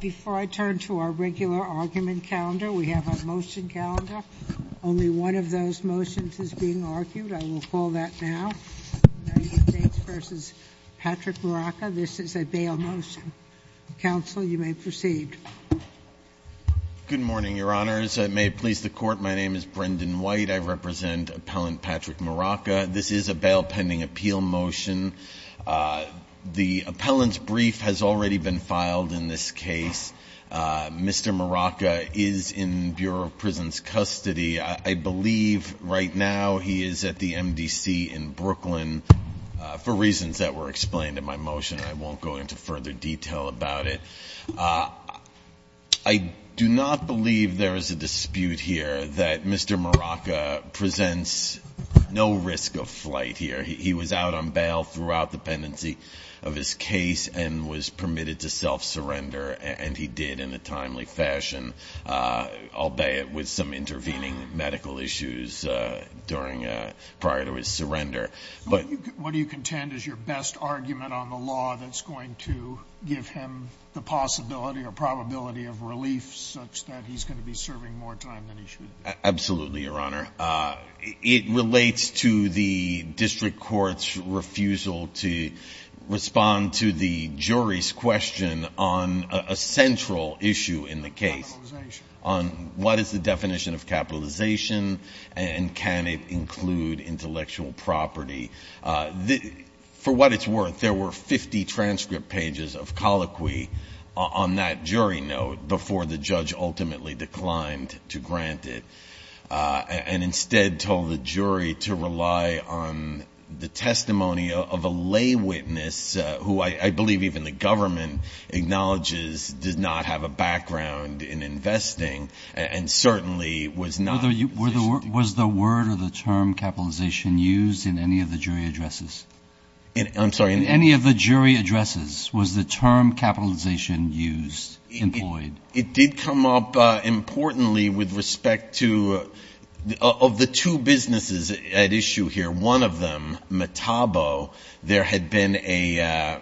Before I turn to our regular argument calendar, we have a motion calendar. Only one of those motions is being argued. I will call that now. United States v. Patrick Maraca. This is a bail motion. Counsel, you may proceed. Good morning, Your Honors. May it please the Court, my name is Brendan White. I represent Appellant Patrick Maraca. This is a bail pending appeal motion. The appellant's brief has already been filed in this case. Mr. Maraca is in Bureau of Prisons custody. I believe right now he is at the MDC in Brooklyn for reasons that were explained in my motion. I won't go into further detail about it. I do not believe there is a dispute here that Mr. Maraca presents no risk of flight here. He was out on bail throughout the pendency of his case and was permitted to self-surrender, and he did in a timely fashion, albeit with some intervening medical issues prior to his surrender. What do you contend is your best argument on the law that's going to give him the possibility or probability of relief such that he's going to be serving more time than he should? Absolutely, Your Honor. It relates to the district court's refusal to respond to the jury's question on a central issue in the case. Capitalization. On what is the definition of capitalization and can it include intellectual property. For what it's worth, there were 50 transcript pages of colloquy on that jury note before the judge ultimately declined to grant it. And instead told the jury to rely on the testimony of a lay witness, who I believe even the government acknowledges does not have a background in investing and certainly was not. Was the word or the term capitalization used in any of the jury addresses? I'm sorry. In any of the jury addresses, was the term capitalization used, employed? It did come up importantly with respect to of the two businesses at issue here. One of them, Metabo, there had been a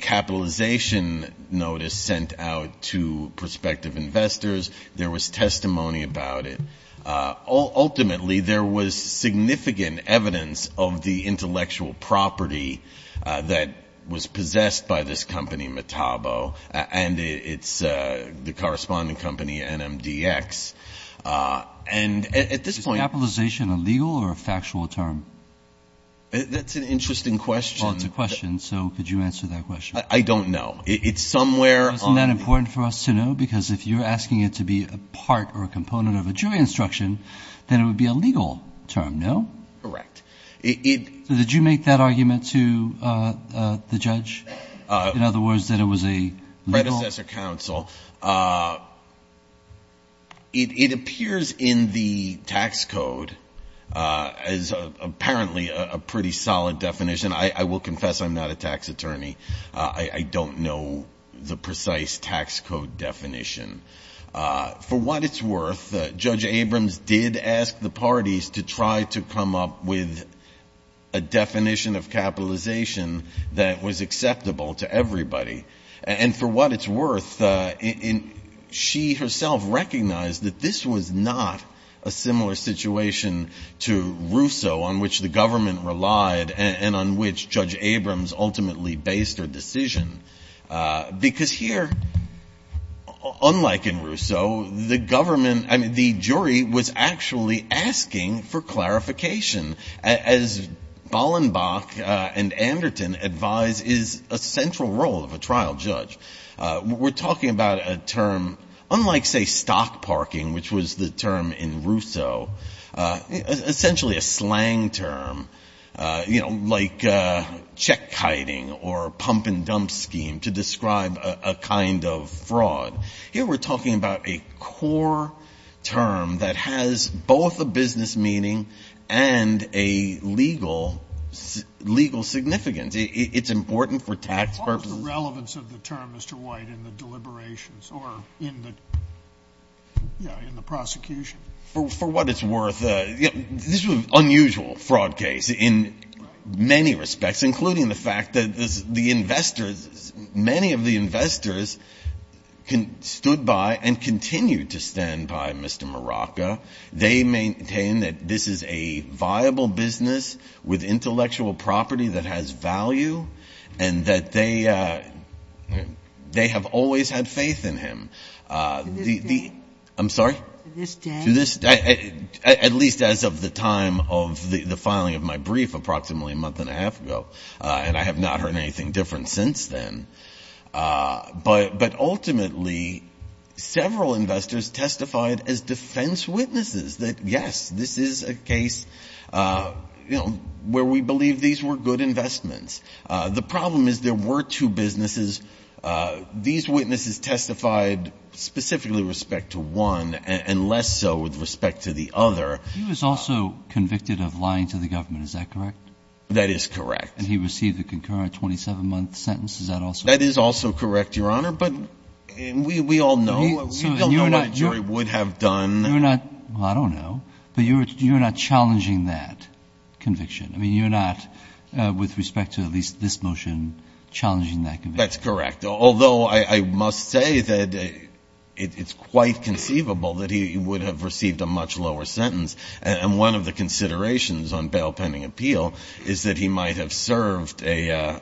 capitalization notice sent out to prospective investors. There was testimony about it. Ultimately, there was significant evidence of the intellectual property that was possessed by this company, Metabo. And it's the corresponding company, NMDX. And at this point. Is capitalization a legal or a factual term? That's an interesting question. It's a question. So could you answer that question? I don't know. It's somewhere. Isn't that important for us to know? Because if you're asking it to be a part or a component of a jury instruction, then it would be a legal term, no? Correct. Did you make that argument to the judge? In other words, that it was a legal? Predecessor counsel. It appears in the tax code as apparently a pretty solid definition. I will confess I'm not a tax attorney. I don't know the precise tax code definition. For what it's worth, Judge Abrams did ask the parties to try to come up with a definition of capitalization that was acceptable to everybody. And for what it's worth, she herself recognized that this was not a similar situation to Russo, on which the government relied, and on which Judge Abrams ultimately based her decision. Because here, unlike in Russo, the government, I mean, the jury was actually asking for clarification, as Ballenbach and Anderton advise is a central role of a trial judge. We're talking about a term, unlike, say, stock parking, which was the term in Russo, essentially a slang term, you know, like check-kiting or pump-and-dump scheme to describe a kind of fraud. Here we're talking about a core term that has both a business meaning and a legal significance. It's important for tax purposes. The relevance of the term, Mr. White, in the deliberations or in the prosecution. For what it's worth, this was an unusual fraud case in many respects, including the fact that the investors, many of the investors stood by and continue to stand by Mr. Maraca. They maintain that this is a viable business with intellectual property that has value, and that they have always had faith in him. To this day? I'm sorry? To this day? To this day, at least as of the time of the filing of my brief approximately a month and a half ago, and I have not heard anything different since then. But ultimately, several investors testified as defense witnesses that, yes, this is a case where we believe these were good investments. The problem is there were two businesses. These witnesses testified specifically with respect to one and less so with respect to the other. He was also convicted of lying to the government. Is that correct? That is correct. And he received a concurrent 27-month sentence. Is that also correct? That is also correct, Your Honor, but we all know what a jury would have done. You're not – well, I don't know, but you're not challenging that conviction. I mean, you're not, with respect to at least this motion, challenging that conviction. That's correct, although I must say that it's quite conceivable that he would have received a much lower sentence. And one of the considerations on bail pending appeal is that he might have served either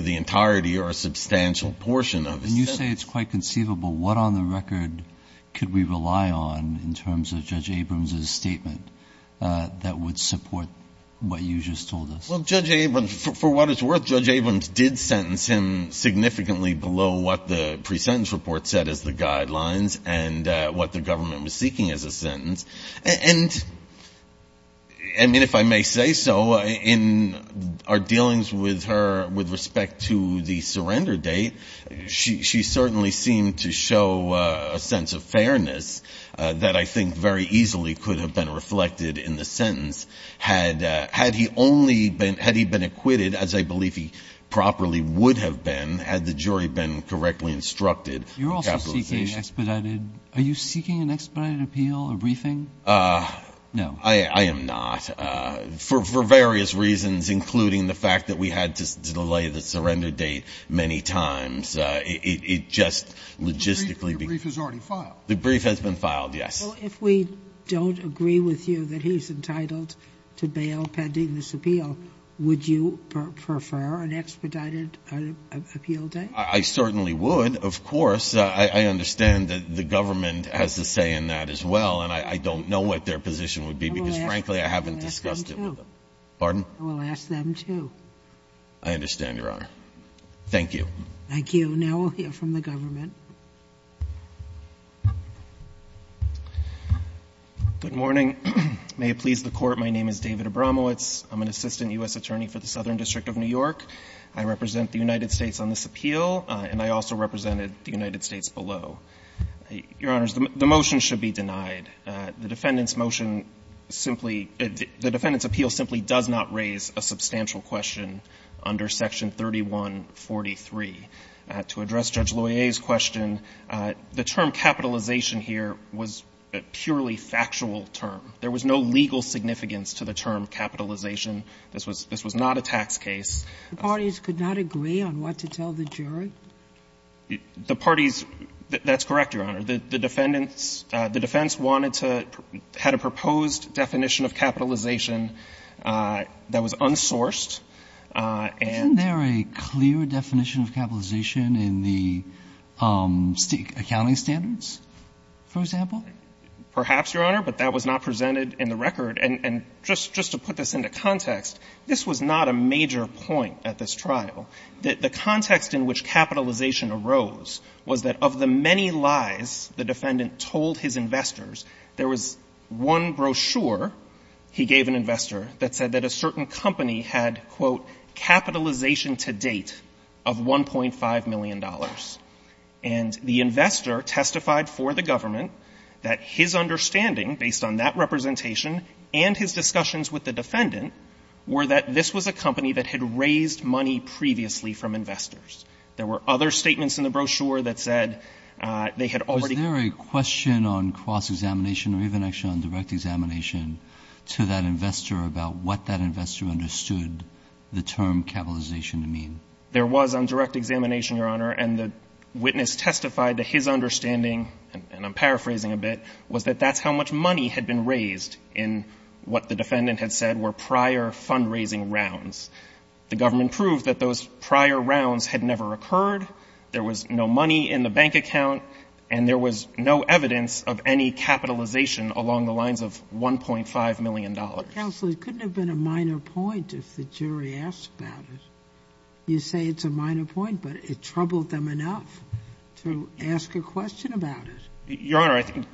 the entirety or a substantial portion of his sentence. And you say it's quite conceivable. What on the record could we rely on in terms of Judge Abrams' statement that would support what you just told us? Well, Judge Abrams, for what it's worth, Judge Abrams did sentence him significantly below what the pre-sentence report said as the guidelines and what the government was seeking as a sentence. And, I mean, if I may say so, in our dealings with her with respect to the surrender date, she certainly seemed to show a sense of fairness that I think very easily could have been reflected in the sentence. Had he only been – had he been acquitted, as I believe he properly would have been, had the jury been correctly instructed in capitalization. Are you seeking expedited – are you seeking an expedited appeal, a briefing? No. I am not, for various reasons, including the fact that we had to delay the surrender date many times. It just logistically – The brief has already filed. The brief has been filed, yes. Well, if we don't agree with you that he's entitled to bail pending this appeal, would you prefer an expedited appeal date? I certainly would, of course. I understand that the government has a say in that as well, and I don't know what their position would be because, frankly, I haven't discussed it with them. I will ask them, too. Pardon? I will ask them, too. I understand, Your Honor. Thank you. Thank you. Now we'll hear from the government. Good morning. May it please the Court, my name is David Abramowitz. I'm an assistant U.S. attorney for the Southern District of New York. I represent the United States on this appeal, and I also represented the United States below. Your Honors, the motion should be denied. The defendant's motion simply – the defendant's appeal simply does not raise a substantial question under Section 3143. To address Judge Loyer's question, the term capitalization here was a purely factual term. There was no legal significance to the term capitalization. This was not a tax case. The parties could not agree on what to tell the jury? The parties – that's correct, Your Honor. The defendants – the defense wanted to – had a proposed definition of capitalization that was unsourced, and – Isn't there a clear definition of capitalization in the accounting standards, for example? Perhaps, Your Honor, but that was not presented in the record. And just to put this into context, this was not a major point at this trial. The context in which capitalization arose was that of the many lies the defendant told his investors, there was one brochure he gave an investor that said that a certain company had, quote, capitalization to date of $1.5 million. And the investor testified for the government that his understanding, based on that representation, and his discussions with the defendant, were that this was a company that had raised money previously from investors. There were other statements in the brochure that said they had already – Was there a question on cross-examination or even actually on direct examination to that investor about what that investor understood the term capitalization to mean? There was on direct examination, Your Honor. And the witness testified that his understanding – and I'm paraphrasing a bit – was that that's how much money had been raised in what the defendant had said were prior fundraising rounds. The government proved that those prior rounds had never occurred, there was no money in the bank account, and there was no evidence of any capitalization along the lines of $1.5 million. Counsel, it couldn't have been a minor point if the jury asked about it. You say it's a minor point, but it troubled them enough to ask a question about it. Your Honor, I think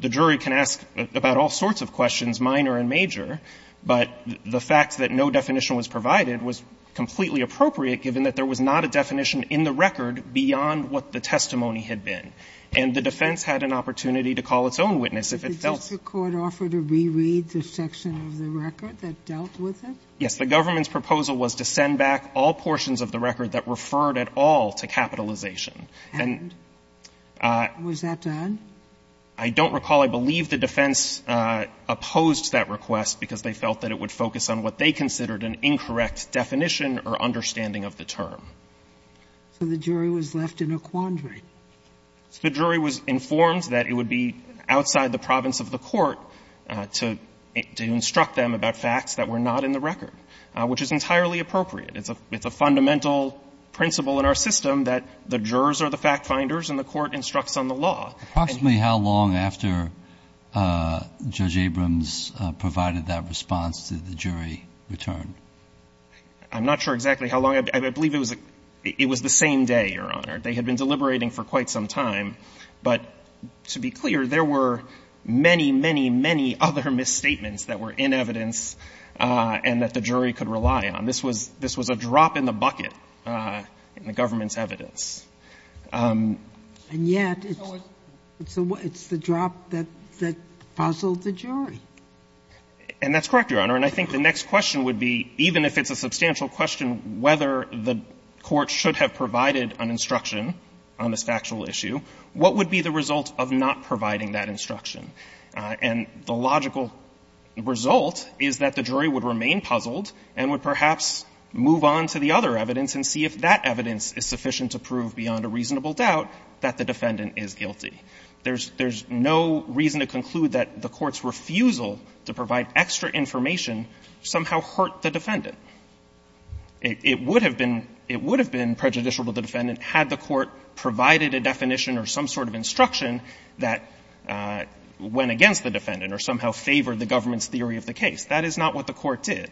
the jury can ask about all sorts of questions, minor and major, but the fact that no definition was provided was completely appropriate, given that there was not a definition in the record beyond what the testimony had been. And the defense had an opportunity to call its own witness if it felt – Did the court offer to reread the section of the record that dealt with it? Yes. The government's proposal was to send back all portions of the record that referred at all to capitalization. And was that done? I don't recall. I believe the defense opposed that request because they felt that it would focus on what they considered an incorrect definition or understanding of the term. So the jury was left in a quandary. The jury was informed that it would be outside the province of the court to instruct them about facts that were not in the record, which is entirely appropriate. It's a fundamental principle in our system that the jurors are the fact-finders and the court instructs on the law. Approximately how long after Judge Abrams provided that response did the jury return? I'm not sure exactly how long. I believe it was the same day, Your Honor. They had been deliberating for quite some time. But to be clear, there were many, many, many other misstatements that were in evidence and that the jury could rely on. This was a drop in the bucket in the government's evidence. And yet it's the drop that puzzled the jury. And that's correct, Your Honor. And I think the next question would be, even if it's a substantial question whether the court should have provided an instruction on this factual issue, what would be the result of not providing that instruction? And the logical result is that the jury would remain puzzled and would perhaps move on to the other evidence and see if that evidence is sufficient to prove beyond a reasonable doubt that the defendant is guilty. There's no reason to conclude that the Court's refusal to provide extra information somehow hurt the defendant. It would have been prejudicial to the defendant had the Court provided a definition or some sort of instruction that went against the defendant or somehow favored the government's theory of the case. That is not what the Court did.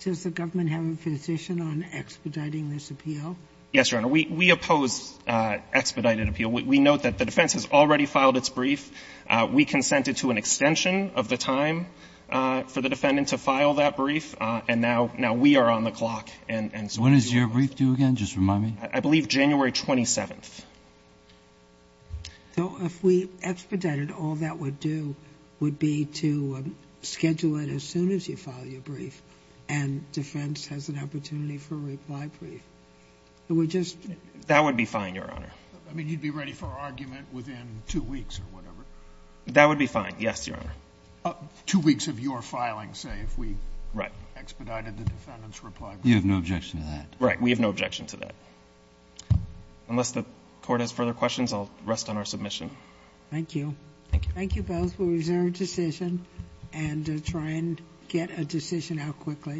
Does the government have a position on expediting this appeal? Yes, Your Honor. We oppose expedited appeal. We note that the defense has already filed its brief. We consented to an extension of the time for the defendant to file that brief. And now we are on the clock. And so we do. When is your brief due again? Just remind me. I believe January 27th. So if we expedited, all that would do would be to schedule it as soon as you file your brief and defense has an opportunity for a reply brief? That would be fine, Your Honor. I mean, you'd be ready for argument within two weeks or whatever. That would be fine, yes, Your Honor. Two weeks of your filing, say, if we expedited the defendant's reply brief. You have no objection to that? Right. We have no objection to that. Unless the Court has further questions, I'll rest on our submission. Thank you. Thank you. Thank you both. We'll reserve a decision and try and get a decision out quickly.